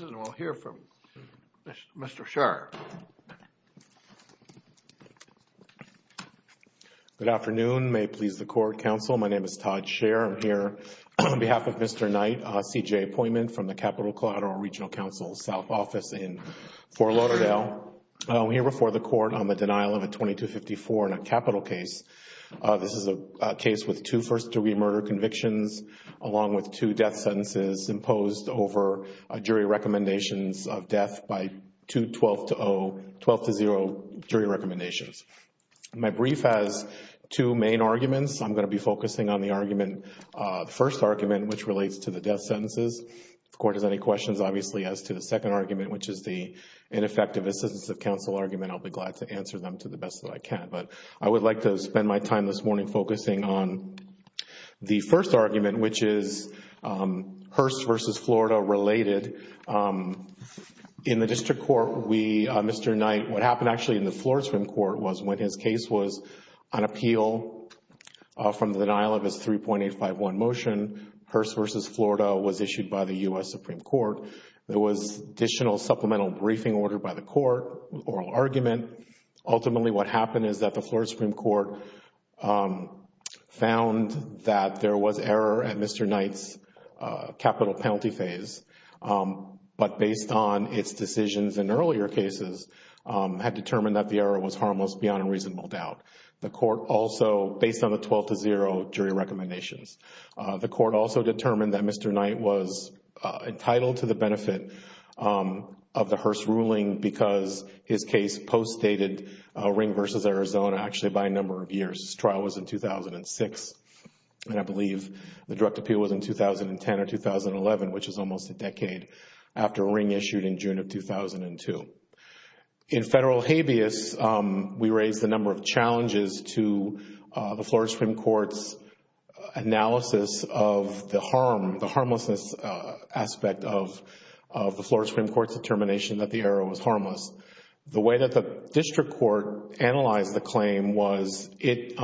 and we'll hear from Mr. Sherr. Good afternoon. May it please the Court, Counsel. My name is Todd Sherr. I'm here on behalf of Mr. Knight, CJA appointment from the Capital Collateral Regional Counsel's South Office in Fort Lauderdale. I'm here before the Court on the denial of a 2254 in a capital case. This is a case with two first-degree murder convictions along with two death sentences imposed over jury recommendations of death by two 12-0 jury recommendations. My brief has two main arguments. I'm going to be focusing on the first argument, which relates to the death sentences. If the Court has any questions, obviously, as to the second argument, which is the ineffective assistance of counsel argument, I'll be glad to answer them to the best that I can. But I would like to spend my time this morning focusing on the first argument, which is Hearst v. Florida related. In the district court, Mr. Knight, what happened actually in the Florida Supreme Court was when his case was on appeal from the denial of his 3.851 motion, Hearst v. Florida was issued by the U.S. Supreme Court. There was additional supplemental briefing ordered by the Court, oral argument. Ultimately, what happened is that the Florida Supreme Court found that there was error at Mr. Knight's capital penalty phase, but based on its decisions in earlier cases, had determined that the error was harmless beyond a reasonable doubt. The Court also, based on the 12-0 jury recommendations, the Court also determined that Mr. Knight was entitled to the benefit of the Hearst ruling because his case post-stated Ring v. Arizona actually by a number of years. This trial was in 2006, and I believe the direct appeal was in 2010 or 2011, which is almost a decade after Ring issued in June of 2002. In federal habeas, we raised a number of challenges to the Florida Supreme Court's analysis of the harm, the harmlessness aspect of the Florida Supreme Court's determination that the error was harmless. The way that the district court analyzed the claim was it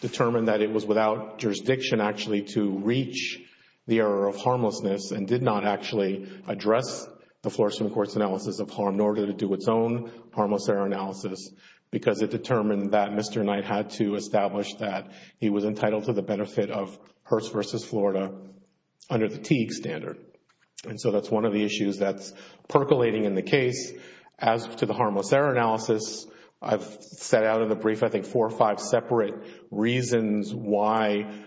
determined that it was without jurisdiction actually to reach the error of harmlessness and did not actually address the Florida Supreme Court's analysis of harm, nor did it do its own harmless error analysis because it determined that Mr. Knight had to establish that he was entitled to the benefit of Hearst v. Florida under the Teague standard. And so that's one of the issues that's percolating in the case. As to the harmless error analysis, I've set out in the brief I think four or five separate reasons why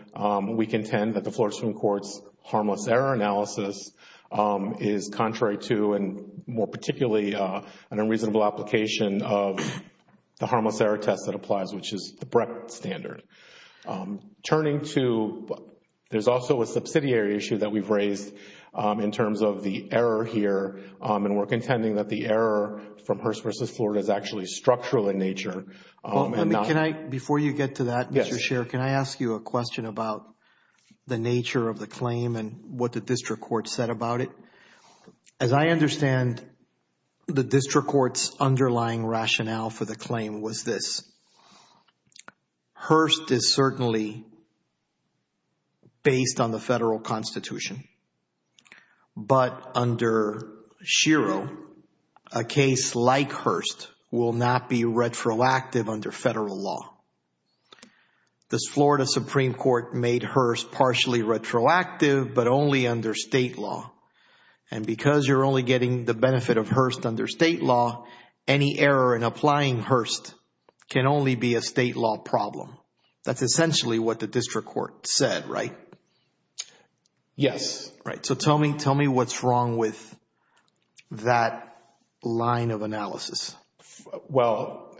we contend that the Florida Supreme Court's harmless error analysis is contrary to and more particularly an unreasonable application of the harmless error test that applies, which is the Brecht standard. Turning to, there's also a subsidiary issue that we've raised in terms of the error here, and we're contending that the error from Hearst v. Florida is actually structural in nature. Can I, before you get to that, Mr. Scheer, can I ask you a question about the nature of the claim and what the district court said about it? As I understand, the district court's underlying rationale for the claim was this. Hearst is certainly based on the federal constitution, but under Schiro, a case like Hearst will not be retroactive under federal law. This Florida Supreme Court made Hearst partially retroactive, but only under state law. And because you're only getting the benefit of Hearst under state law, any error in applying Hearst can only be a state law problem. That's essentially what the district court said, right? Yes. Right. So tell me what's wrong with that line of analysis. Well,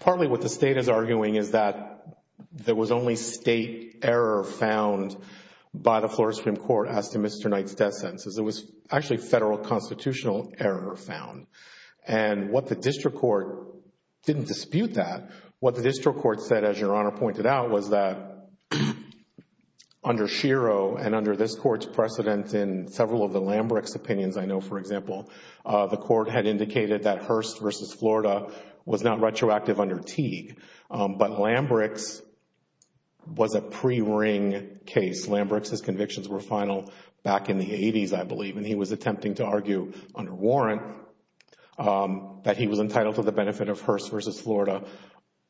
partly what the state is arguing is that there was only state error found by the Florida Supreme Court as to Mr. Knight's death sentence. It was actually federal constitutional error found. And what the district court didn't dispute that, what the district court said, as Your Honor pointed out, was that under Schiro and under this court's precedent in several of the Lambrecht's opinions, I know, for example, the court had indicated that Hearst versus Florida was not retroactive under Teague, but Lambrecht's was a pre-ring case. Lambrecht's convictions were final back in the 80s, I believe, and he was attempting to argue under warrant that he was entitled to the benefit of Hearst versus Florida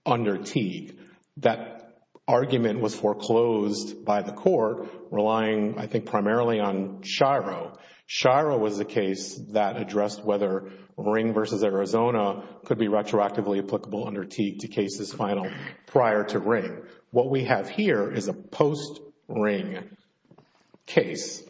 under Teague. That argument was foreclosed by the court, relying, I think, primarily on Schiro. Schiro was the case that addressed whether ring versus Arizona could be retroactively applicable under Teague to cases final prior to ring. What we have here is a post-ring case.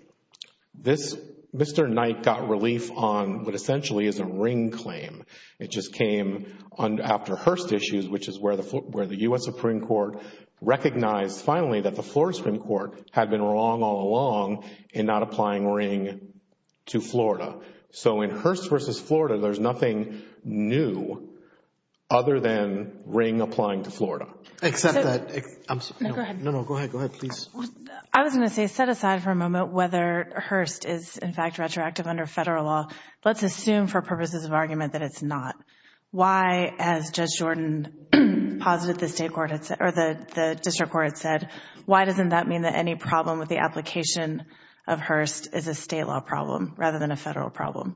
This, Mr. Knight got relief on what essentially is a ring claim. It just came after Hearst issues, which is where the U.S. Supreme Court recognized finally that the Florida Supreme Court had been wrong all along in not applying ring to Florida. So in Hearst versus Florida, there's nothing new other than ring applying to Florida. I was going to say, set aside for a moment whether Hearst is, in fact, retroactive under federal law. Let's assume for purposes of argument that it's not. Why, as Judge Jordan posited the district court had said, why doesn't that mean that any problem with the application of Hearst is a state law problem rather than a federal problem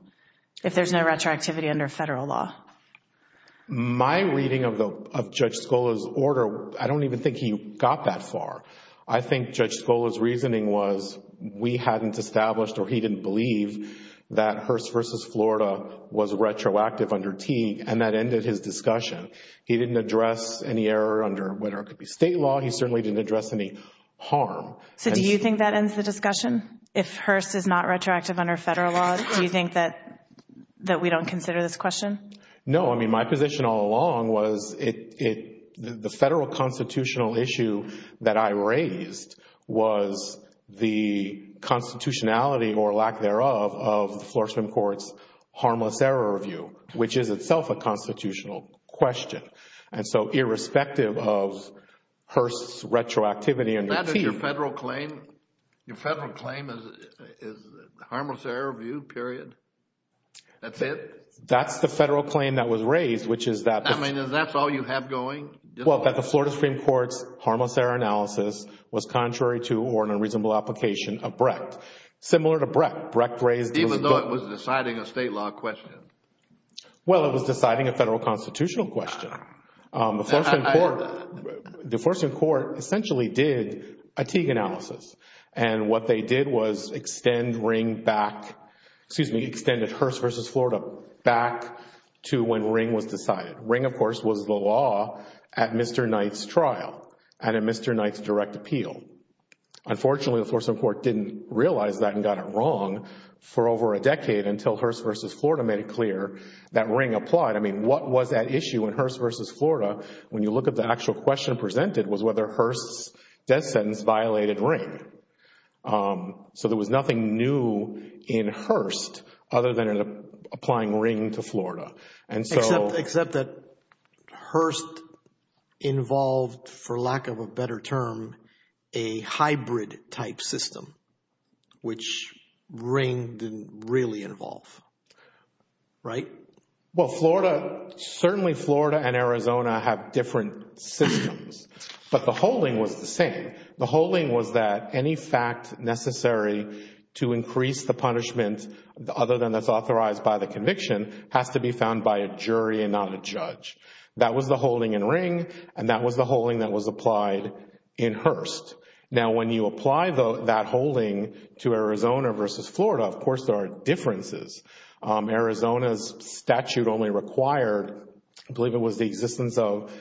if there's no retroactivity under federal law? My reading of Judge Scola's order, I don't even think he got that far. I think Judge Scola's reasoning was we hadn't established or he didn't believe that Hearst versus Florida was retroactive under Teague and that ended his discussion. He didn't address any error under whether it could be state law. He certainly didn't address any harm. So do you think that ends the discussion? If Hearst is not retroactive under federal law, do you think that we don't consider this question? No. I mean, my position all along was the federal constitutional issue that I raised was the constitutionality or lack thereof of the Florida Supreme Court's harmless error review, which is itself a constitutional question. And so irrespective of Hearst's retroactivity under Teague... Isn't that your federal claim? Your federal claim is harmless error review, period. That's it? And that was raised, which is that... I mean, is that all you have going? Well, that the Florida Supreme Court's harmless error analysis was contrary to or in a reasonable application of Brecht. Similar to Brecht. Brecht raised... Even though it was deciding a state law question. Well, it was deciding a federal constitutional question. The Florida Supreme Court essentially did a Teague analysis. And what they did was extend Ring back... Excuse me. Extended Hearst v. Florida back to when Ring was decided. Ring, of course, was the law at Mr. Knight's trial and at Mr. Knight's direct appeal. Unfortunately, the Florida Supreme Court didn't realize that and got it wrong for over a decade until Hearst v. Florida made it clear that Ring applied. I mean, what was at issue in Hearst v. Florida when you look at the actual question presented was whether Hearst's death sentence violated Ring. So, there was nothing new in Hearst other than applying Ring to Florida. Except that Hearst involved, for lack of a better term, a hybrid type system, which Ring didn't really involve. Right? Well, Florida... Certainly, Florida and Arizona have different systems. But the holding was the same. The holding was that any fact necessary to increase the punishment, other than that's authorized by the conviction, has to be found by a jury and not a judge. That was the holding in Ring. And that was the holding that was applied in Hearst. Now, when you apply that holding to Arizona v. Florida, of course, there are differences. Arizona's statute only required, I believe it was the existence of,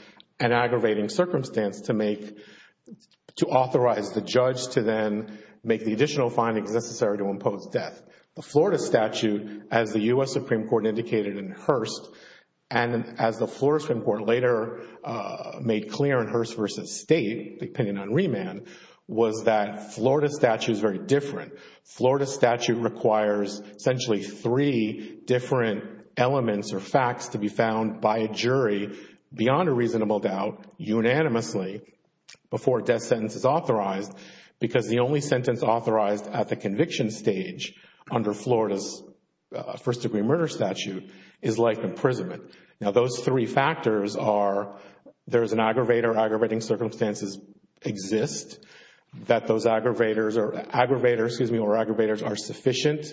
an aggravating circumstance to authorize the judge to then make the additional findings necessary to impose death. The Florida statute, as the U.S. Supreme Court indicated in Hearst, and as the Florida Supreme Court later made clear in Hearst v. State, the opinion on remand, was that Florida statute is very different. Florida statute requires essentially three different elements or facts to be found by a jury, beyond a reasonable doubt, unanimously, before a death sentence is authorized. Because the only sentence authorized at the conviction stage, under Florida's first degree murder statute, is life imprisonment. Now, those three factors are, there is an aggravator, aggravating circumstances exist, that those aggravators are sufficient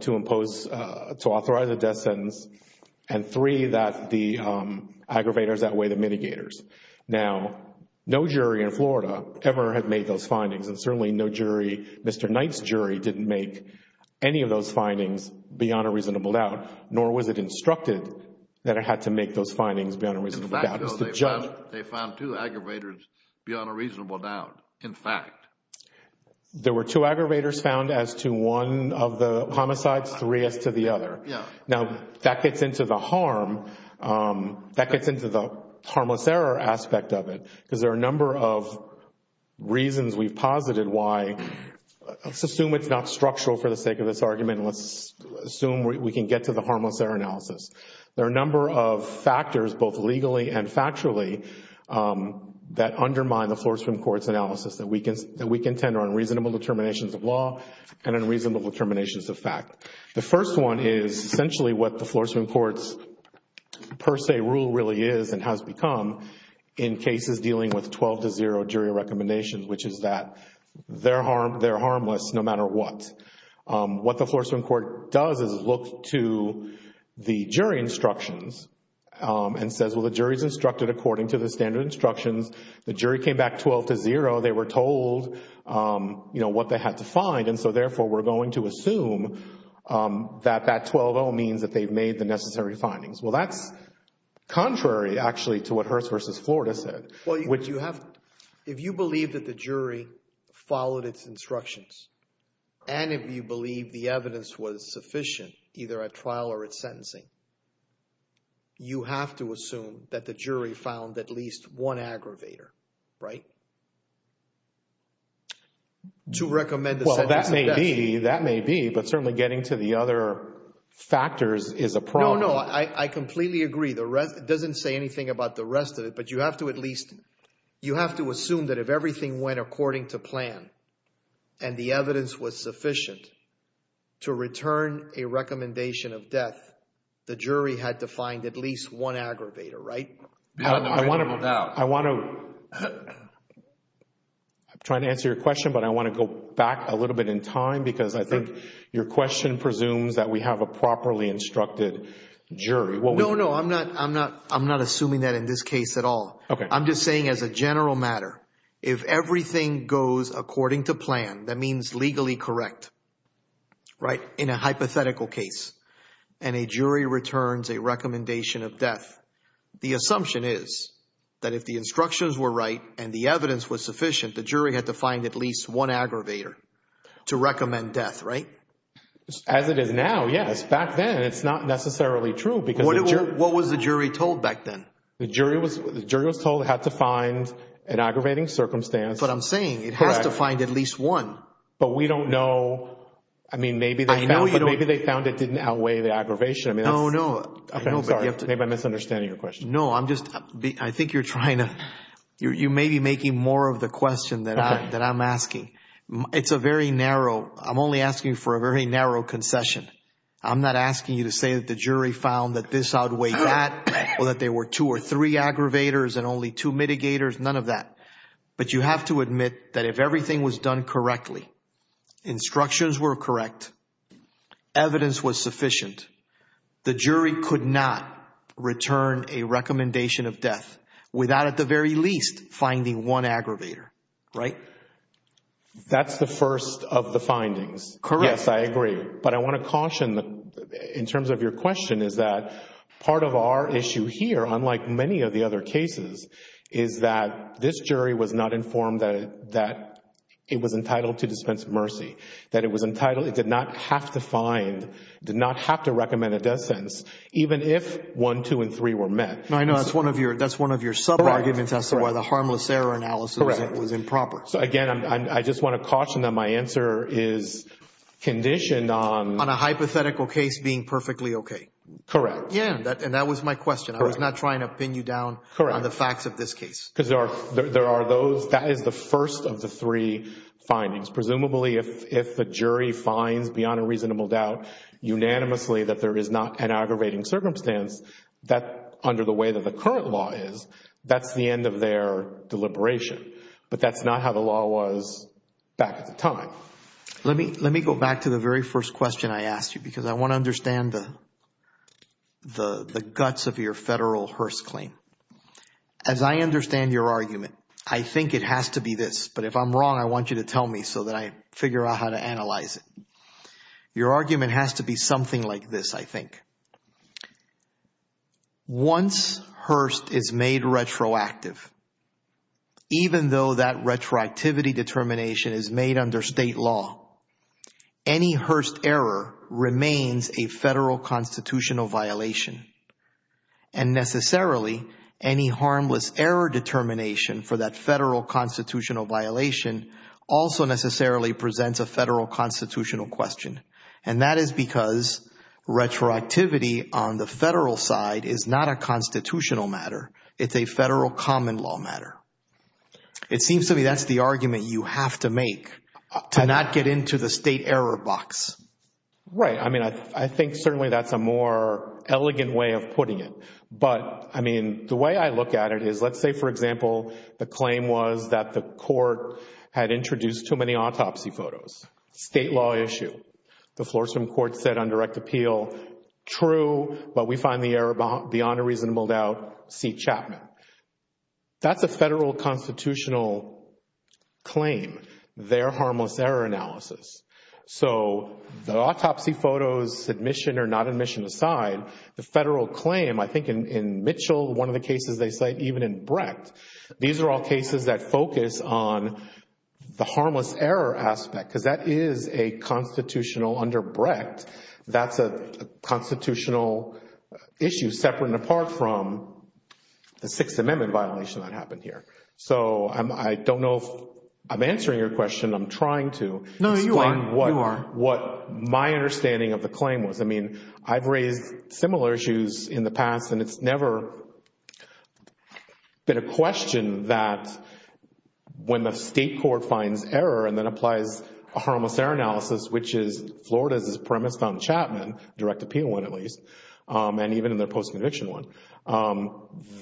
to authorize a death sentence, and three, that the aggravators outweigh the mitigators. Now, no jury in Florida ever had made those findings, and certainly no jury, Mr. Knight's jury, didn't make any of those findings beyond a reasonable doubt, nor was it instructed that it had to make those findings beyond a reasonable doubt. They found two aggravators beyond a reasonable doubt, in fact. There were two aggravators found as to one of the homicides, three as to the other. Now, that gets into the harm, that gets into the harmless error aspect of it, because there are a number of reasons we've posited why, let's assume it's not structural for the sake of this argument, let's assume we can get to the harmless error analysis. There are a number of factors, both legally and factually, that undermine the Florida Supreme Court's analysis, that we contend are unreasonable determinations of law and unreasonable determinations of fact. The first one is essentially what the Florida Supreme Court's per se rule really is and has become in cases dealing with 12-0 jury recommendations, which is that they're harmless no matter what. What the Florida Supreme Court does is look to the jury instructions and says, well, the jury's instructed according to the standard instructions. The jury came back 12-0, they were told what they had to find, and so therefore we're going to assume that that 12-0 means that they've made the necessary findings. Well, that's contrary, actually, to what Hearst v. Florida said. Well, if you believe that the jury followed its instructions and if you believe the evidence was sufficient, either at trial or at sentencing, you have to assume that the jury found at least one aggravator, right, to recommend the sentence of death. Well, that may be, but certainly getting to the other factors is a problem. No, no, I completely agree. It doesn't say anything about the rest of it, but you have to at least, you have to assume that if everything went according to plan and the evidence was sufficient to return a recommendation of death, the jury had to find at least one aggravator, right? I'm trying to answer your question, but I want to go back a little bit in time because I think your question presumes that we have a properly instructed jury. No, no, I'm not assuming that in this case at all. I'm just saying as a general matter, if everything goes according to plan, that means legally correct, right, in a hypothetical case, and a jury returns a recommendation of death, the assumption is that if the instructions were right and the evidence was sufficient, the jury had to find at least one aggravator to recommend death, right? As it is now, yes. Back then, it's not necessarily true. What was the jury told back then? The jury was told it had to find an aggravating circumstance. But I'm saying it has to find at least one. But we don't know. I mean, maybe they found it didn't outweigh the aggravation. No, no. Maybe I'm misunderstanding your question. No, I'm just, I think you're trying to, you may be making more of the question that I'm asking. It's a very narrow, I'm only asking for a very narrow concession. I'm not asking you to say that the jury found that this outweighed that, or that there were two or three aggravators and only two mitigators, none of that. But you have to admit that if everything was done correctly, instructions were correct, evidence was sufficient, the jury could not return a recommendation of death without at the very least finding one aggravator, right? That's the first of the findings. Correct. Yes, I agree. But I want to caution, in terms of your question, is that part of our issue here, unlike many of the other cases, is that this jury was not informed that it was entitled to dispense mercy. That it was entitled, it did not have to find, did not have to recommend a death sentence, even if one, two, and three were met. I know, that's one of your sub-arguments as to why the harmless error analysis was improper. So again, I just want to caution that my answer is conditioned on... On a hypothetical case being perfectly okay. Correct. Yeah, and that was my question. I was not trying to pin you down on the facts of this case. Because there are those, that is the first of the three findings. Presumably if the jury finds, beyond a reasonable doubt, unanimously that there is not an aggravating circumstance, that, under the way that the current law is, that's the end of their deliberation. But that's not how the law was back at the time. Let me go back to the very first question I asked you, because I want to understand the guts of your federal Hearst claim. As I understand your argument, I think it has to be this, but if I'm wrong, I want you to tell me so that I figure out how to analyze it. Your argument has to be something like this, I think. Once Hearst is made retroactive, even though that retroactivity determination is made under state law, any Hearst error remains a federal constitutional violation. And necessarily, any harmless error determination for that federal constitutional violation also necessarily presents a federal constitutional question. And that is because retroactivity on the federal side is not a constitutional matter. It's a federal common law matter. It seems to me that's the argument you have to make to not get into the state error box. Right. I mean, I think certainly that's a more elegant way of putting it. But, I mean, the way I look at it is, let's say, for example, the claim was that the court had introduced too many autopsy photos. State law issue. The Floriston Court said on direct appeal, true, but we find the error beyond a reasonable doubt. See Chapman. That's a federal constitutional claim, their harmless error analysis. So the autopsy photos, admission or not admission aside, the federal claim, I think in Mitchell, one of the cases they cite, even in Brecht, these are all cases that focus on the harmless error aspect because that is a constitutional under Brecht. That's a constitutional issue separate and apart from the Sixth Amendment violation that happened here. So I don't know if I'm answering your question. I'm trying to explain what my understanding of the claim was. I mean, I've raised similar issues in the past and it's never been a question that when the state court finds error and then applies a harmless error analysis, which is Florida's premise on Chapman, direct appeal one at least, and even in their post-conviction one,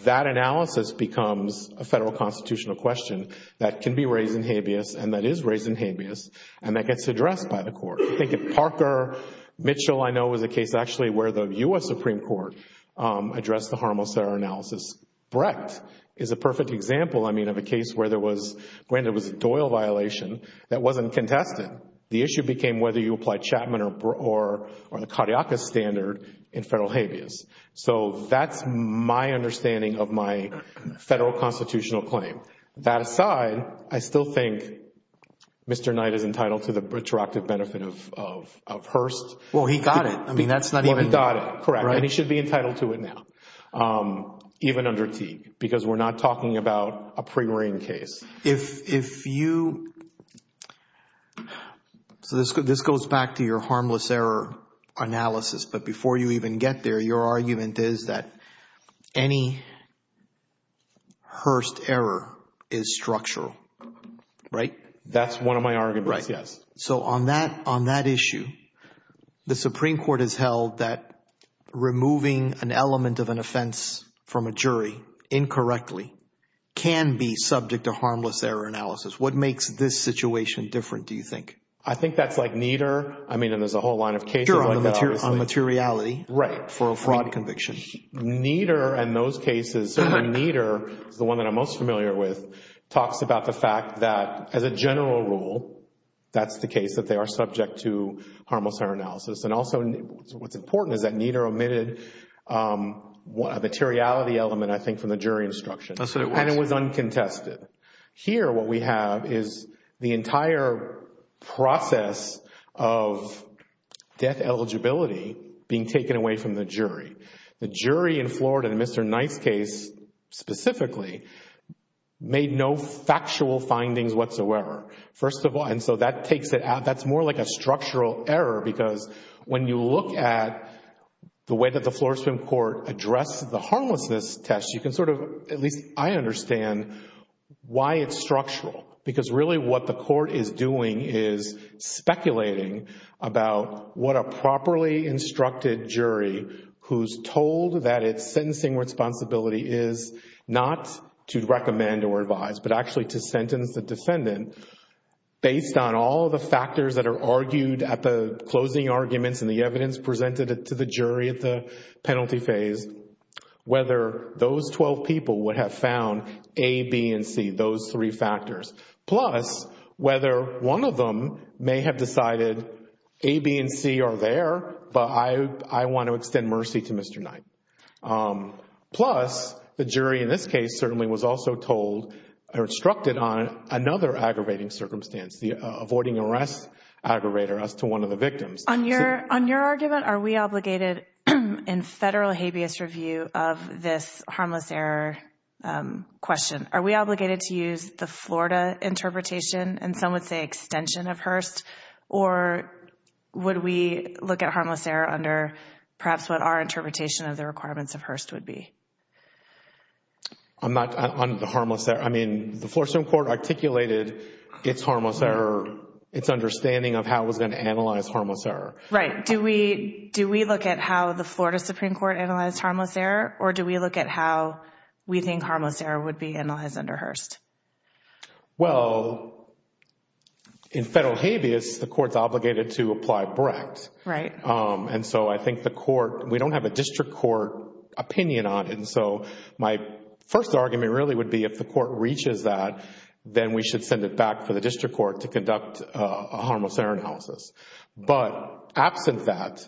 that analysis becomes a federal constitutional question that can be raised in habeas and that is raised in habeas and that gets addressed by the court. I think in Parker, Mitchell I know was a case actually where the U.S. Supreme Court addressed the harmless error analysis. Brecht is a perfect example, I mean, of a case where there was a Doyle violation that wasn't contested. The issue became whether you apply Chapman or the cardiacus standard in federal habeas. So that's my understanding of my federal constitutional claim. That aside, I still think Mr. Knight is entitled to the retroactive benefit of Hearst. Well, he got it. I mean, that's not even... Well, he got it, correct, and he should be entitled to it now, even under Teague, because we're not talking about a pre-ring case. If you... so this goes back to your harmless error analysis, but before you even get there, your argument is that any Hearst error is structural, right? That's one of my arguments, yes. So on that issue, the Supreme Court has held that removing an element of an offense from a jury incorrectly can be subject to harmless error analysis. What makes this situation different, do you think? I think that's like Nieder, I mean, and there's a whole line of cases like that, obviously. Sure, on materiality for a fraud conviction. Nieder and those cases, Nieder is the one that I'm most familiar with, talks about the fact that as a general rule, that's the case, that they are subject to harmless error analysis. And also, what's important is that Nieder omitted a materiality element, I think, from the jury instruction, and it was uncontested. Here, what we have is the entire process of death eligibility being taken away from the jury. The jury in Florida, in Mr. Knight's case specifically, made no factual findings whatsoever. First of all, and so that takes it out, that's more like a structural error, because when you look at the way that the Florida Supreme Court addressed the harmlessness test, you can sort of, at least I understand, why it's structural. Because really what the court is doing is speculating about what a properly instructed jury, who's told that its sentencing responsibility is not to recommend or advise, but actually to sentence the defendant, based on all the factors that are argued at the closing arguments and the evidence presented to the jury at the penalty phase, whether those 12 people would have found A, B, and C, those three factors. Plus, whether one of them may have decided A, B, and C are there, but I want to extend mercy to Mr. Knight. Plus, the jury in this case certainly was also told or instructed on another aggravating circumstance, the avoiding arrest aggravator as to one of the victims. On your argument, are we obligated in federal habeas review of this harmless error question, are we obligated to use the Florida interpretation, and some would say extension of Hearst, or would we look at harmless error under perhaps what our interpretation of the requirements of Hearst would be? I'm not on the harmless error. I mean, the Florida Supreme Court articulated its harmless error, its understanding of how it was going to analyze harmless error. Right. Do we look at how the Florida Supreme Court analyzed harmless error, or do we look at how we think harmless error would be analyzed under Hearst? Well, in federal habeas, the court's obligated to apply Brecht. Right. And so I think the court, we don't have a district court opinion on it, and so my first argument really would be if the court reaches that, then we should send it back for the district court to conduct a harmless error analysis. But absent that,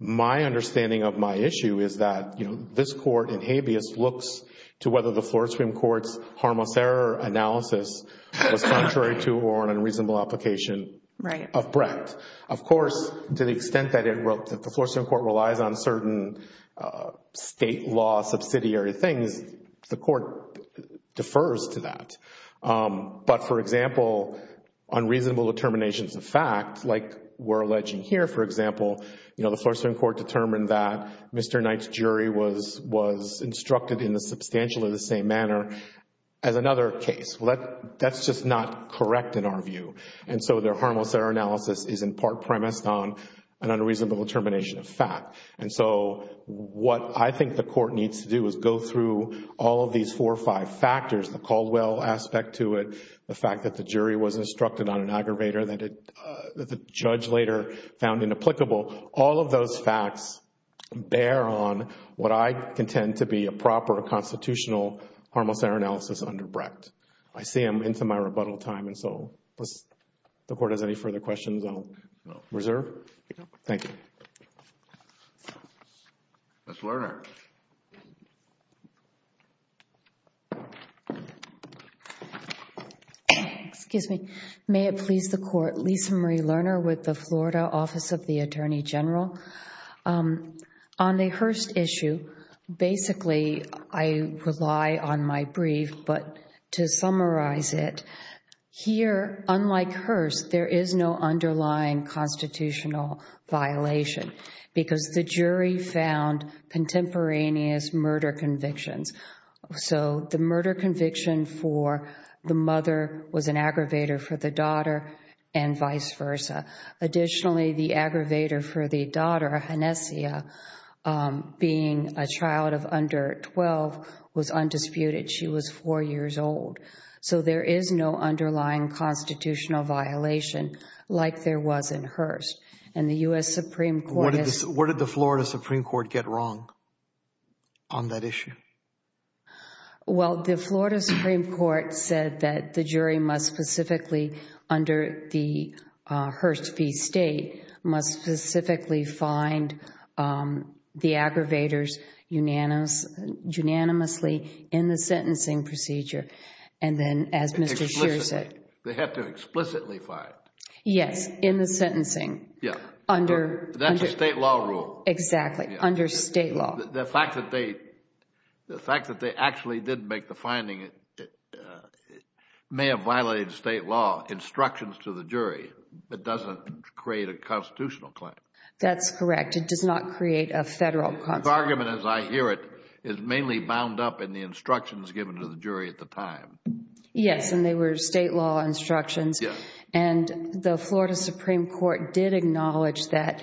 my understanding of my issue is that, you know, this court in habeas looks to whether the Florida Supreme Court's harmless error analysis was contrary to or an unreasonable application of Brecht. Of course, to the extent that the Florida Supreme Court relies on certain state law subsidiary things, the court defers to that. But, for example, unreasonable determinations of fact, like we're alleging here, for example, you know, the Florida Supreme Court determined that Mr. Knight's jury was instructed in a substantially the same manner as another case. Well, that's just not correct in our view. And so their harmless error analysis is in part premised on an unreasonable determination of fact. And so what I think the court needs to do is go through all of these four or five factors, the Caldwell aspect to it, the fact that the jury was instructed on an aggravator that the judge later found inapplicable. All of those facts bear on what I contend to be a proper constitutional harmless error analysis under Brecht. I see I'm into my rebuttal time, and so if the court has any further questions, I'll reserve. Thank you. Ms. Lerner. Excuse me. May it please the court, Lisa Marie Lerner with the Florida Office of the Attorney General. On the Hearst issue, basically I rely on my brief, but to summarize it, here, unlike Hearst, there is no underlying constitutional violation because the jury found contemporaneous murder convictions. So the murder conviction for the mother was an aggravator for the daughter and vice versa. Additionally, the aggravator for the daughter, Hanessia, being a child of under 12, was undisputed. She was four years old. So there is no underlying constitutional violation like there was in Hearst, and the U.S. Supreme Court has What did the Florida Supreme Court get wrong on that issue? Well, the Florida Supreme Court said that the jury must specifically, under the Hearst v. State, must specifically find the aggravators unanimously in the sentencing procedure, and then as Mr. Scheer said They have to explicitly find Yes, in the sentencing That's a state law rule Exactly, under state law The fact that they actually did make the finding may have violated state law instructions to the jury but doesn't create a constitutional claim That's correct. It does not create a federal claim This argument, as I hear it, is mainly bound up in the instructions given to the jury at the time Yes, and they were state law instructions And the Florida Supreme Court did acknowledge that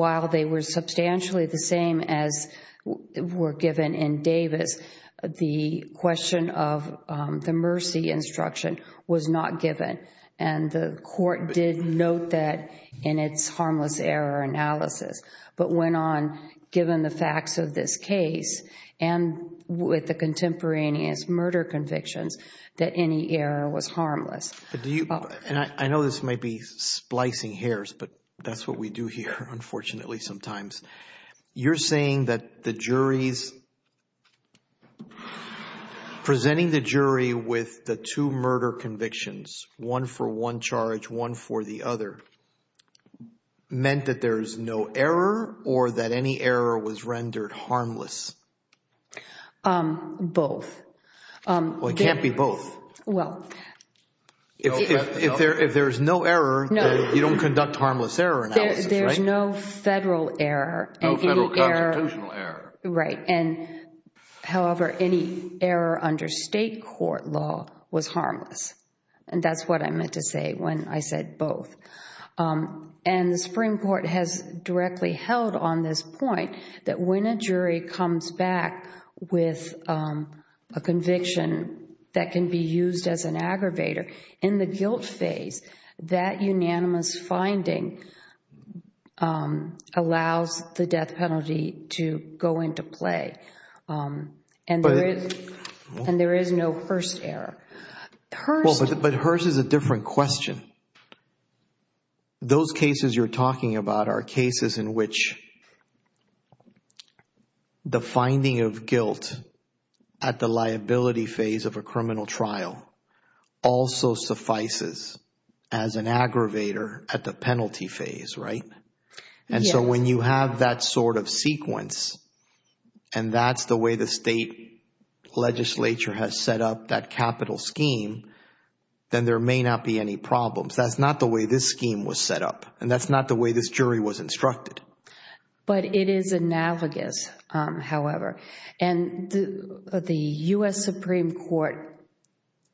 while they were substantially the same as were given in Davis the question of the mercy instruction was not given and the court did note that in its harmless error analysis but went on, given the facts of this case and with the contemporaneous murder convictions that any error was harmless I know this might be splicing hairs, but that's what we do here, unfortunately, sometimes You're saying that the jury's presenting the jury with the two murder convictions, one for one charge, one for the other meant that there's no error or that any error was rendered harmless Both Well, it can't be both Well If there's no error, you don't conduct harmless error analysis, right? There's no federal error No federal constitutional error Right, and however, any error under state court law was harmless And that's what I meant to say when I said both And the Supreme Court has directly held on this point that when a jury comes back with a conviction that can be used as an aggravator in the guilt phase, that unanimous finding allows the death penalty to go into play and there is no Hearst error But Hearst is a different question Those cases you're talking about are cases in which the finding of guilt at the liability phase of a criminal trial also suffices as an aggravator at the penalty phase, right? And so when you have that sort of sequence and that's the way the state legislature has set up that capital scheme then there may not be any problems That's not the way this scheme was set up And that's not the way this jury was instructed But it is analogous, however And the U.S. Supreme Court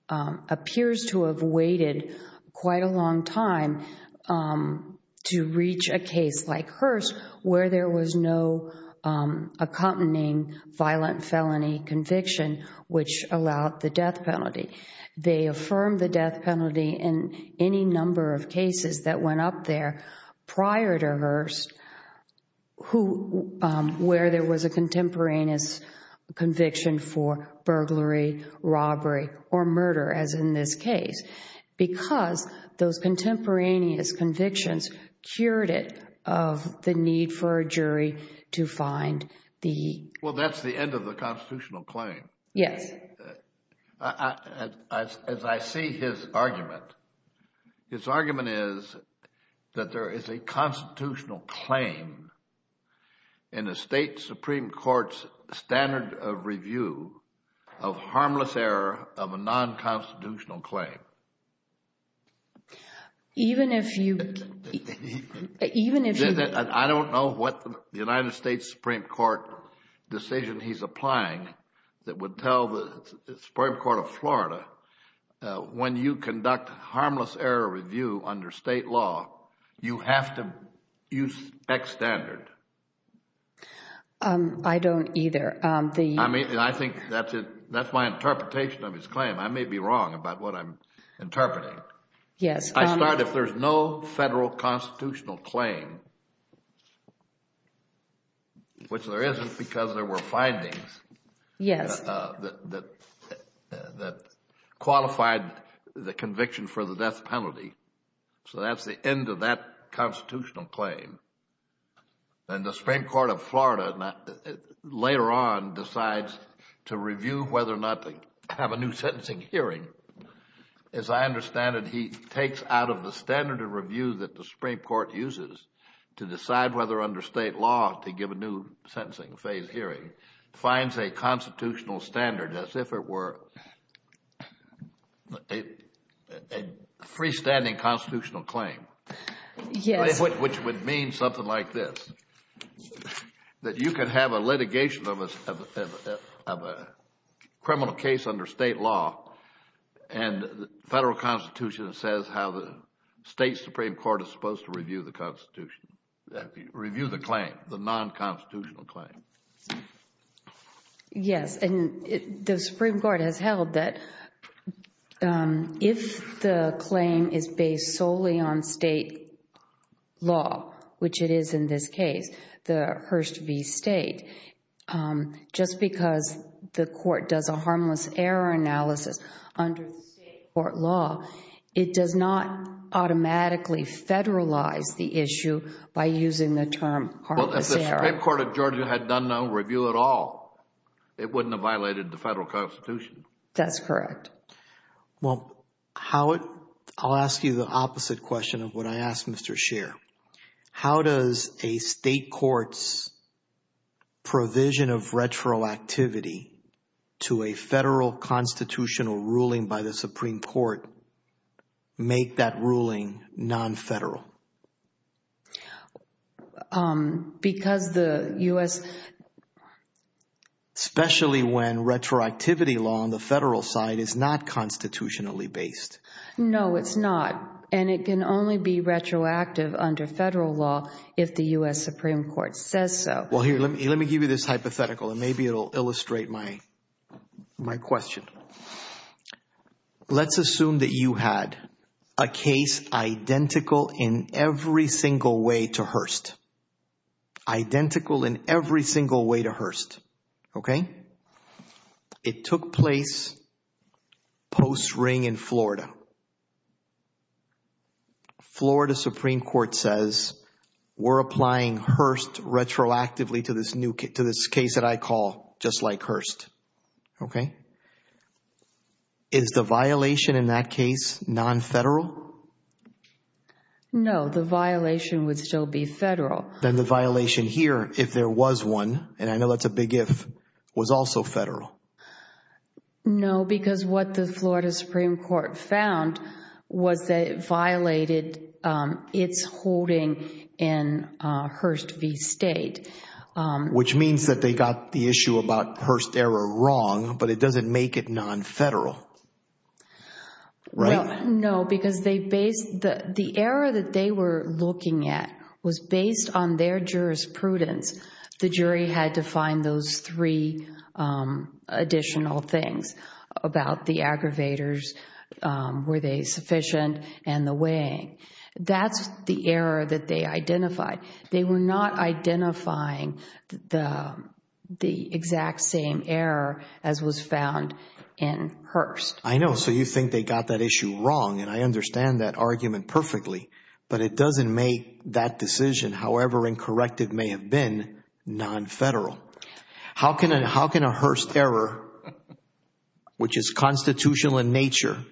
appears to have waited quite a long time to reach a case like Hearst where there was no accompanying violent felony conviction which allowed the death penalty They affirmed the death penalty in any number of cases that went up there prior to Hearst where there was a contemporaneous conviction for burglary, robbery, or murder as in this case because those contemporaneous convictions cured it of the need for a jury to find the Well, that's the end of the constitutional claim Yes As I see his argument his argument is that there is a constitutional claim in a state supreme court's standard of review of harmless error of a non-constitutional claim Even if you Even if you I don't know what the United States Supreme Court decision he's applying that would tell the Supreme Court of Florida when you conduct harmless error review under state law you have to use X standard I don't either I mean, I think that's my interpretation of his claim I may be wrong about what I'm interpreting Yes I start, if there's no federal constitutional claim which there isn't because there were findings Yes that qualified the conviction for the death penalty so that's the end of that constitutional claim and the Supreme Court of Florida later on decides to review whether or not to have a new sentencing hearing As I understand it, he takes out of the standard of review that the Supreme Court uses to decide whether under state law to give a new sentencing phase hearing finds a constitutional standard as if it were a freestanding constitutional claim Yes which would mean something like this that you could have a litigation of a criminal case under state law and the federal constitution says how the state Supreme Court is supposed to review the constitution review the claim, the non-constitutional claim Yes, and the Supreme Court has held that if the claim is based solely on state law which it is in this case, the Hurst v. State just because the court does a harmless error analysis under the state court law it does not automatically federalize the issue by using the term harmless error Well, if the Supreme Court of Georgia had done no review at all it wouldn't have violated the federal constitution That's correct Well, I'll ask you the opposite question of what I asked Mr. Scheer How does a state court's provision of retroactivity to a federal constitutional ruling by the Supreme Court make that ruling non-federal? Because the U.S. Especially when retroactivity law on the federal side is not constitutionally based No, it's not and it can only be retroactive under federal law if the U.S. Supreme Court says so Well here, let me give you this hypothetical and maybe it will illustrate my question Let's assume that you had a case identical in every single way to Hurst Identical in every single way to Hurst Okay It took place post-ring in Florida Florida Supreme Court says we're applying Hurst retroactively to this case that I call just like Hurst Okay Is the violation in that case non-federal? No, the violation would still be federal Then the violation here, if there was one and I know that's a big if was also federal No, because what the Florida Supreme Court found was that it violated its holding in Hurst v. State Which means that they got the issue about Hurst error wrong but it doesn't make it non-federal Right? No, because the error that they were looking at was based on their jurisprudence The jury had to find those three additional things about the aggravators Were they sufficient? And the weighing That's the error that they identified They were not identifying the exact same error as was found in Hurst I know, so you think they got that issue wrong and I understand that argument perfectly but it doesn't make that decision however incorrect it may have been non-federal How can a Hurst error which is constitutional in nature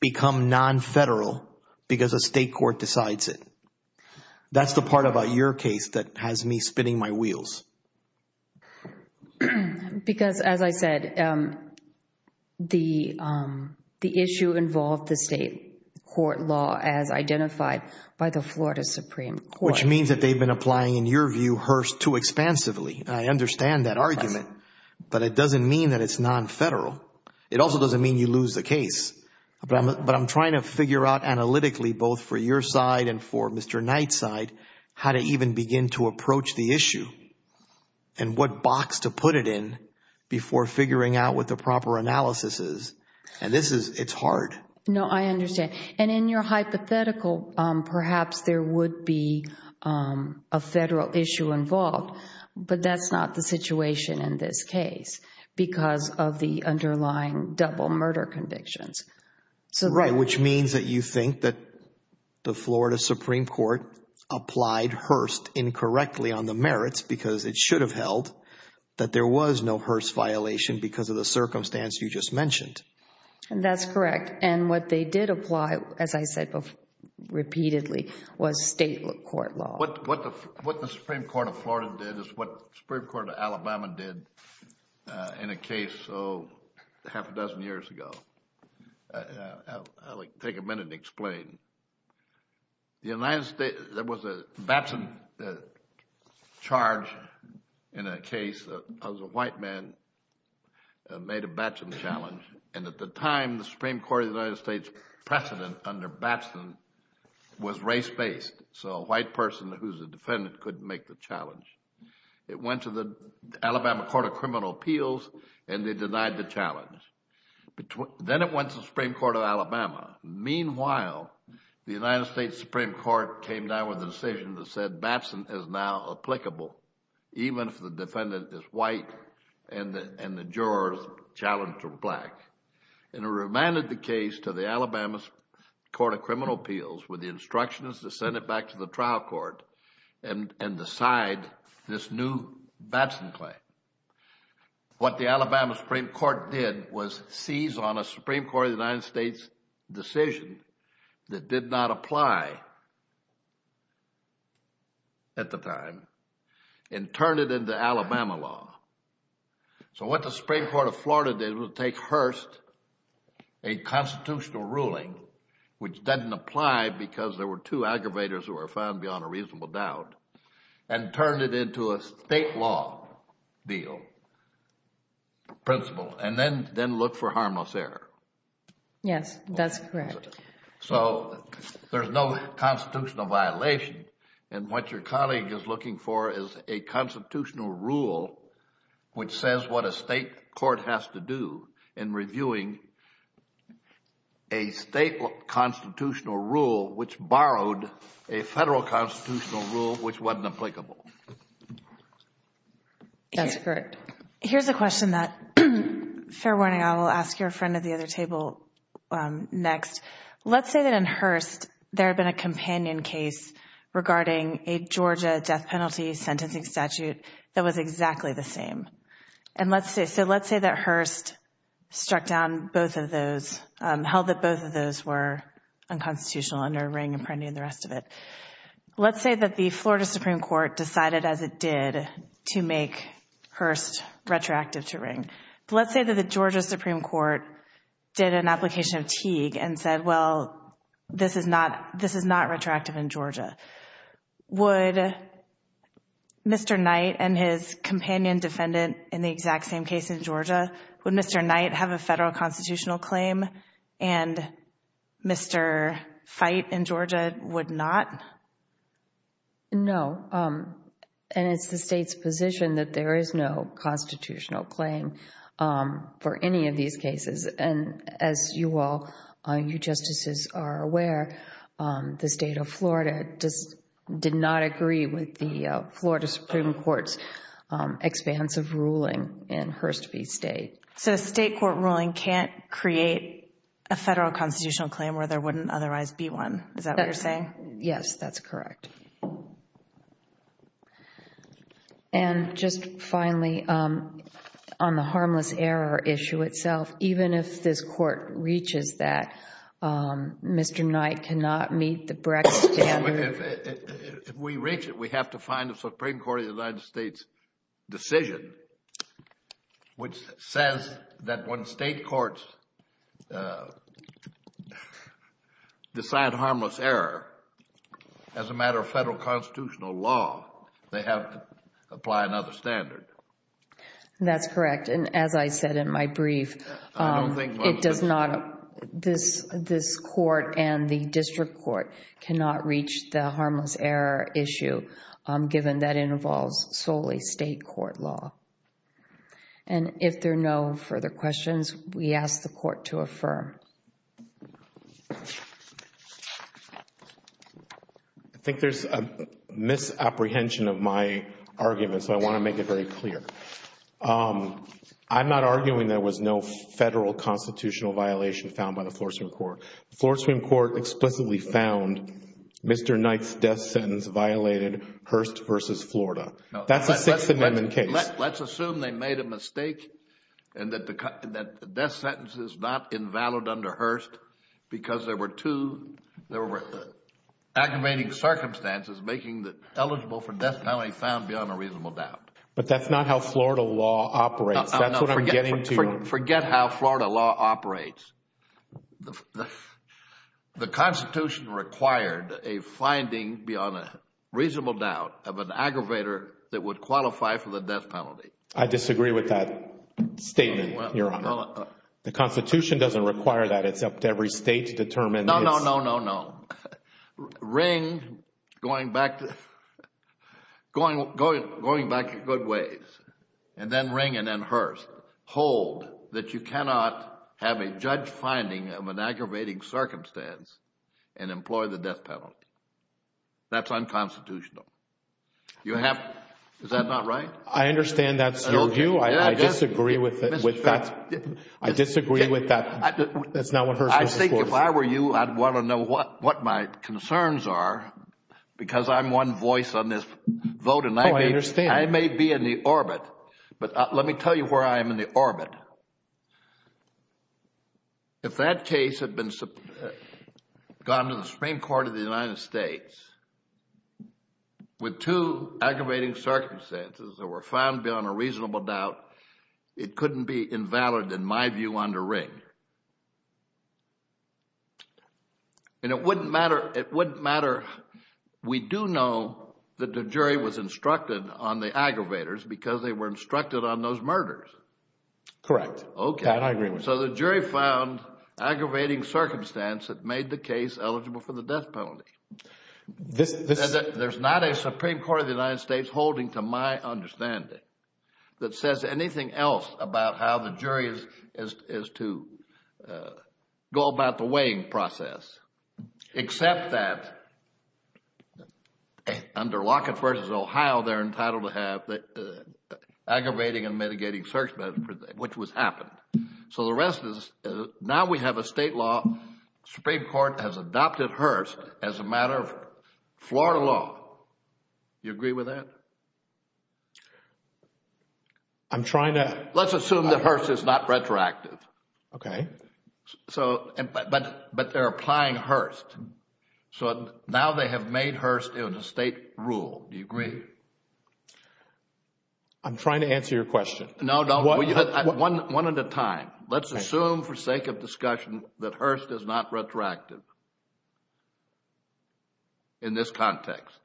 become non-federal because a state court decides it? That's the part about your case that has me spinning my wheels Because as I said the issue involved the state court law as identified by the Florida Supreme Court Which means that they've been applying in your view Hurst too expansively I understand that argument but it doesn't mean that it's non-federal It also doesn't mean you lose the case but I'm trying to figure out analytically both for your side and for Mr. Knight's side how to even begin to approach the issue and what box to put it in before figuring out what the proper analysis is and this is, it's hard No, I understand and in your hypothetical perhaps there would be a federal issue involved but that's not the situation in this case because of the underlying double murder convictions Right, which means that you think that the Florida Supreme Court applied Hurst incorrectly on the merits because it should have held that there was no Hurst violation because of the circumstance you just mentioned That's correct and what they did apply, as I said repeatedly was state court law What the Supreme Court of Florida did is what the Supreme Court of Alabama did I'll take a minute and explain There was a Batson charge in a case a white man made a Batson challenge and at the time the Supreme Court of the United States precedent under Batson was race-based so a white person who's a defendant couldn't make the challenge It went to the Alabama Court of Criminal Appeals and they denied the challenge Then it went to the Supreme Court of Alabama Meanwhile, the United States Supreme Court came down with a decision that said Batson is now applicable even if the defendant is white and the jurors challenged are black and it remanded the case to the Alabama Court of Criminal Appeals with the instructions to send it back to the trial court and decide this new Batson claim What the Alabama Supreme Court did was seize on a Supreme Court of the United States decision that did not apply at the time and turn it into Alabama law So what the Supreme Court of Florida did was take Hearst, a constitutional ruling which didn't apply because there were two aggravators who were found beyond a reasonable doubt and turned it into a state law deal principle, and then looked for harmless error Yes, that's correct So there's no constitutional violation and what your colleague is looking for is a constitutional rule which says what a state court has to do in reviewing a state constitutional rule which borrowed a federal constitutional rule which wasn't applicable That's correct Here's a question that, fair warning I will ask your friend at the other table next Let's say that in Hearst there had been a companion case regarding a Georgia death penalty sentencing statute that was exactly the same So let's say that Hearst struck down both of those held that both of those were unconstitutional under Ring, Apprendi, and the rest of it Let's say that the Florida Supreme Court decided as it did to make Hearst retroactive to Ring Let's say that the Georgia Supreme Court did an application of Teague and said well, this is not retroactive in Georgia Would Mr. Knight and his companion defendant in the exact same case in Georgia Would Mr. Knight have a federal constitutional claim and Mr. Fite in Georgia would not? No, and it's the state's position that there is no constitutional claim for any of these cases And as you all, you justices are aware the state of Florida did not agree with the Florida Supreme Court's expansive ruling in Hearst v. State So a state court ruling can't create a federal constitutional claim where there wouldn't otherwise be one Is that what you're saying? Yes, that's correct And just finally on the harmless error issue itself even if this court reaches that Mr. Knight cannot meet the Brexit standard If we reach it, we have to find the Supreme Court of the United States decision which says that when state courts decide harmless error as a matter of federal constitutional law they have to apply another standard That's correct And as I said in my brief I don't think It does not This court and the district court cannot reach the harmless error issue given that it involves solely state court law And if there are no further questions we ask the court to affirm I think there's a misapprehension of my argument so I want to make it very clear I'm not arguing there was no federal constitutional violation found by the Florida Supreme Court The Florida Supreme Court explicitly found Mr. Knight's death sentence violated Hearst v. Florida That's a Sixth Amendment case Let's assume they made a mistake and that the death sentence is not invalid under Hearst because there were two aggravating circumstances making it eligible for death penalty found beyond a reasonable doubt But that's not how Florida law operates That's what I'm getting to Forget how Florida law operates The Constitution required a finding beyond a reasonable doubt of an aggravator that would qualify for the death penalty I disagree with that statement, Your Honor The Constitution doesn't require that It's up to every state to determine No, no, no, no, no Ring going back going back in good ways and then ring and then Hearst hold that you cannot have a judge finding of an aggravating circumstance and employ the death penalty That's unconstitutional Is that not right? I understand that's your view I disagree with that I disagree with that That's not what Hearst v. Florida I think if I were you I'd want to know what my concerns are because I'm one voice on this vote Oh, I understand I may be in the orbit but let me tell you where I am in the orbit If that case had been gone to the Supreme Court of the United States with two aggravating circumstances that were found beyond a reasonable doubt it couldn't be invalid in my view under Ring And it wouldn't matter We do know that the jury was instructed on the aggravators because they were instructed on those murders Correct So the jury found aggravating circumstance that made the case eligible for the death penalty There's not a Supreme Court of the United States holding to my understanding that says anything else about how the jury is to go about the weighing process except that under Lockett v. Ohio they're entitled to have aggravating and mitigating circumstance which was happened So the rest is now we have a state law Supreme Court has adopted Hearst as a matter of Florida law Do you agree with that? I'm trying to Let's assume that Hearst is not retroactive Okay But they're applying Hearst So now they have made Hearst Hearst in a state rule Do you agree? I'm trying to answer your question No, no One at a time Let's assume for sake of discussion that Hearst is not retroactive in this context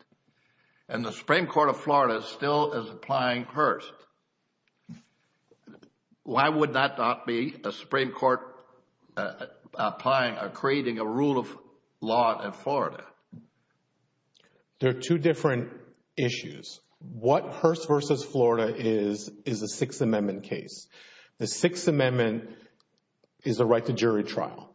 And the Supreme Court of Florida still is applying Hearst Why would that not be a Supreme Court creating a rule of law in Florida? There are two different issues What Hearst v. Florida is is a Sixth Amendment case The Sixth Amendment is a right to jury trial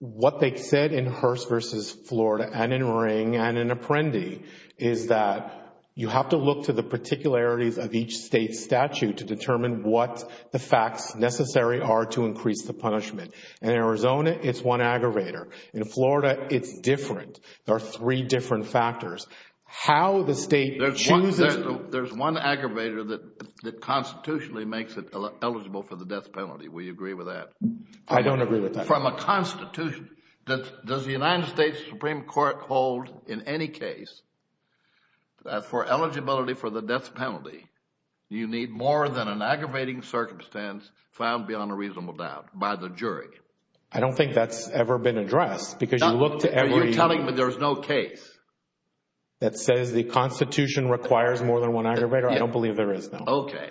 What they said in Hearst v. Florida and in Ring and in Apprendi is that you have to look to the particularities of each state statute to determine what the facts necessary are to increase the punishment In Arizona, it's one aggravator In Florida, it's different There are three different factors How the state chooses There's one aggravator that constitutionally makes it eligible for the death penalty Will you agree with that? I don't agree with that From a constitution does the United States Supreme Court hold in any case for eligibility for the death penalty you need more than an aggravating circumstance found beyond a reasonable doubt by the jury I don't think that's ever been addressed because you look to every You're telling me there's no case that says the constitution requires more than one aggravator I don't believe there is, no Okay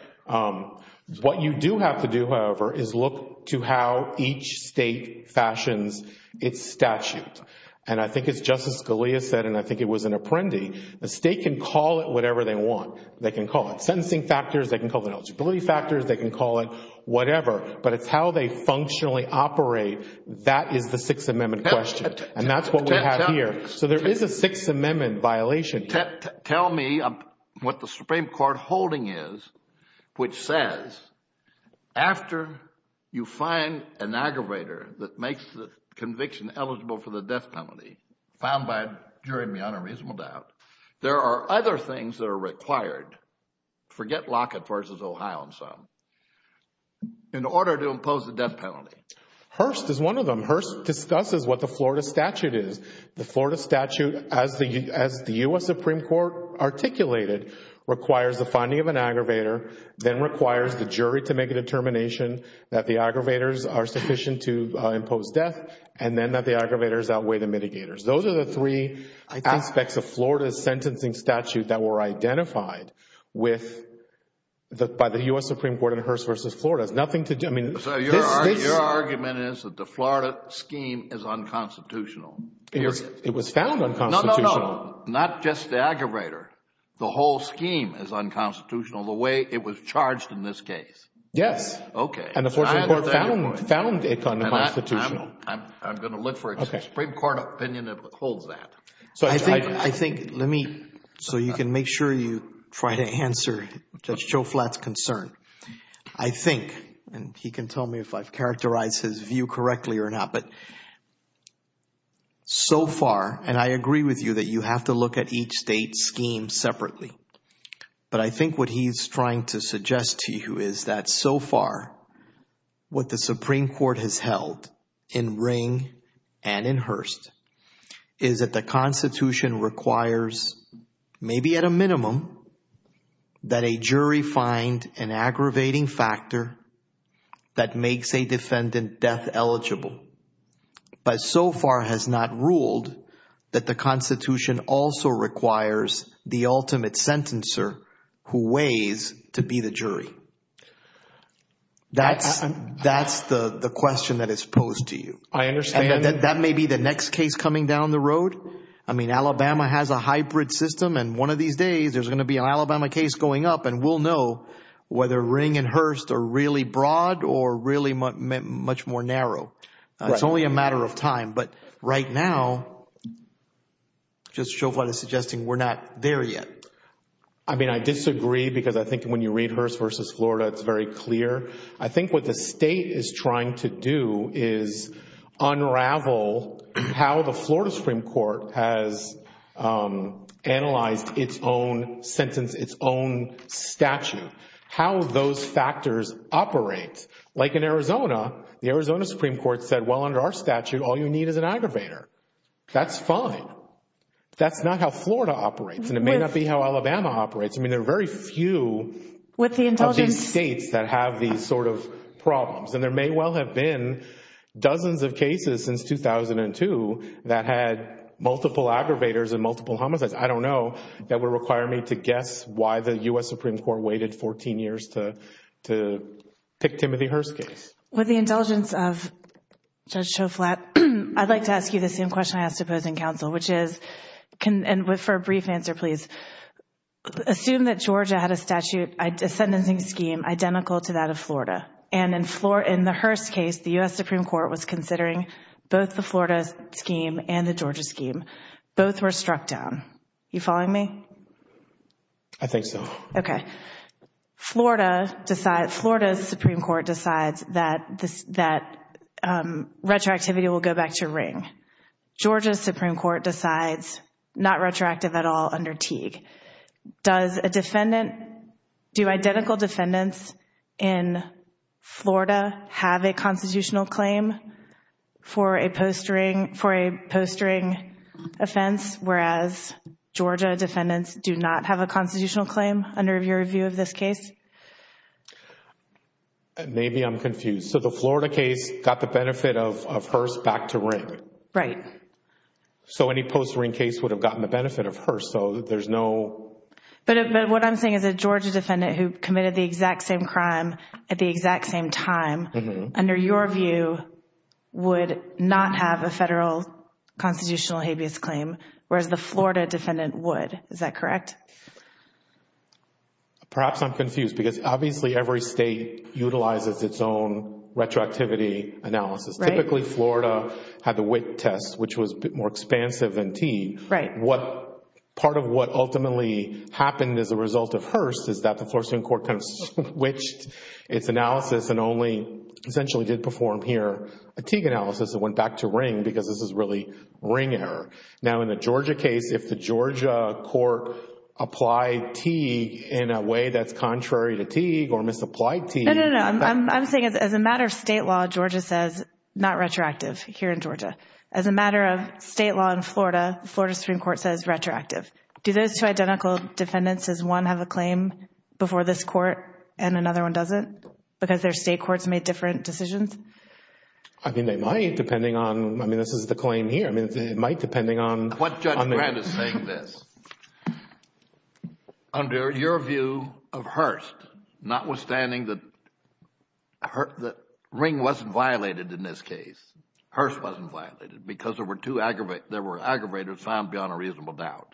What you do have to do, however is look to how each state fashions its statute And I think it's just as Scalia said and I think it was in Apprendi The state can call it whatever they want They can call it sentencing factors They can call it eligibility factors They can call it whatever But it's how they functionally operate That is the Sixth Amendment question And that's what we have here So there is a Sixth Amendment violation Tell me what the Supreme Court holding is which says after you find an aggravator that makes the conviction eligible for the death penalty found by a jury beyond a reasonable doubt there are other things that are required forget Lockett v. Ohio and some in order to impose the death penalty Hearst is one of them Hearst discusses what the Florida statute is The Florida statute as the U.S. Supreme Court articulated requires the finding of an aggravator then requires the jury to make a determination that the aggravators are sufficient to impose death and then that the aggravators outweigh the mitigators Those are the three aspects of Florida's sentencing statute that were identified by the U.S. Supreme Court in Hearst v. Florida Nothing to do Your argument is that the Florida scheme is unconstitutional It was found unconstitutional No, no, no Not just the aggravator The whole scheme is unconstitutional the way it was charged in this case Yes Okay And the Florida court found it unconstitutional I'm going to look for a Supreme Court opinion that holds that So I think Let me So you can make sure you try to answer Judge Joe Flatt's concern I think and he can tell me if I've characterized his view correctly or not but so far and I agree with you that you have to look at each state scheme separately but I think what he's trying to suggest to you is that so far what the Supreme Court has held in Ring and in Hearst is that the Constitution requires maybe at a minimum that a jury find an aggravating factor that makes a defendant death eligible but so far has not ruled that the Constitution also requires the ultimate sentencer who weighs to be the jury That's the question that is posed to you I understand And that may be the next case coming down the road I mean Alabama has a hybrid system and one of these days there's going to be an Alabama case going up and we'll know whether Ring and Hearst are really broad or really much more narrow It's only a matter of time but right now Judge Joe Flatt is suggesting we're not there yet I mean I disagree because I think when you read Hearst versus Florida it's very clear I think what the state is trying to do is unravel how the Florida Supreme Court has analyzed its own sentence its own statute how those factors operate Like in Arizona the Arizona Supreme Court said well under our statute all you need is an aggravator That's fine That's not how Florida operates and it may not be how Alabama operates I mean there are very few of these states that have these sort of problems and there may well have been dozens of cases since 2002 that had multiple aggravators and multiple homicides I don't know that would require me to guess why the U.S. Supreme Court waited 14 years to pick Timothy Hearst's case With the indulgence of Judge Joe Flatt I'd like to ask you the same question I asked Opposing Counsel which is and for a brief answer please Assume that Georgia had a statute a sentencing scheme identical to that of Florida and in the Hearst case the U.S. Supreme Court was considering both the Florida scheme and the Georgia scheme both were struck down You following me? I think so Okay Florida's Supreme Court decides that retroactivity will go back to ring Georgia's Supreme Court decides not retroactive at all under Teague Does a defendant Do identical defendants in Florida have a constitutional claim for a posturing offense whereas Georgia defendants do not have a constitutional claim under your view of this case? Maybe I'm confused So the Florida case got the benefit of Hearst back to ring Right So any posturing case would have gotten the benefit of Hearst so there's no But what I'm saying is a Georgia defendant who committed the exact same crime at the exact same time under your view would not have a federal constitutional habeas claim whereas the Florida defendant would Is that correct? Perhaps I'm confused because obviously every state utilizes its own retroactivity analysis Typically Florida had the Witt test which was more expansive than Teague Right Part of what ultimately happened as a result of Hearst is that the Florida Supreme Court kind of switched its analysis and only essentially did perform here a Teague analysis that went back to ring because this is really ring error Now in the Georgia case if the Georgia court applied Teague in a way that's contrary to Teague or misapplied Teague No, no, no I'm saying as a matter of state law Georgia says not retroactive here in Georgia As a matter of state law in Florida Florida Supreme Court says retroactive Do those two identical defendants as one have a claim before this court and another one doesn't? Because their state courts made different decisions? I mean they might depending on I mean this is the claim here I mean it might depending on What Judge Grant is saying this Under your view of Hearst notwithstanding that that ring wasn't violated in this case Hearst wasn't violated because there were two there were aggravators found beyond a reasonable doubt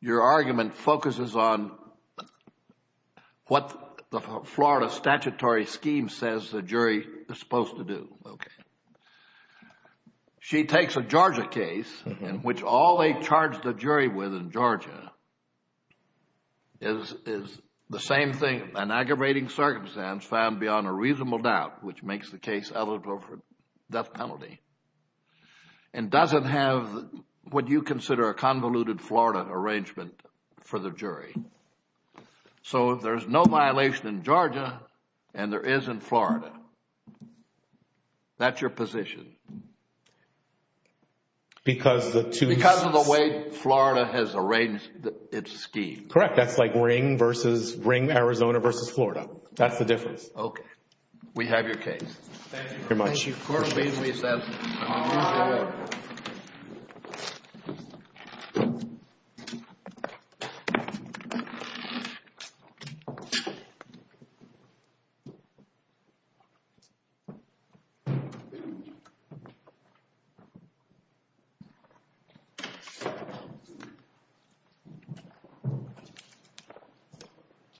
Your argument focuses on what the Florida statutory scheme says the jury is supposed to do Okay She takes a Georgia case in which all they charge the jury with in Georgia is the same thing an aggravating circumstance found beyond a reasonable doubt which makes the case eligible for death penalty and doesn't have what you consider a convoluted Florida arrangement for the jury So there's no violation in Georgia and there isn't Florida That's your position Because of the two Because of the way Florida has arranged its scheme Correct That's like ring versus ring Arizona versus Florida That's the difference Okay We have your case Thank you very much Thank you Court obeys me All right Thank you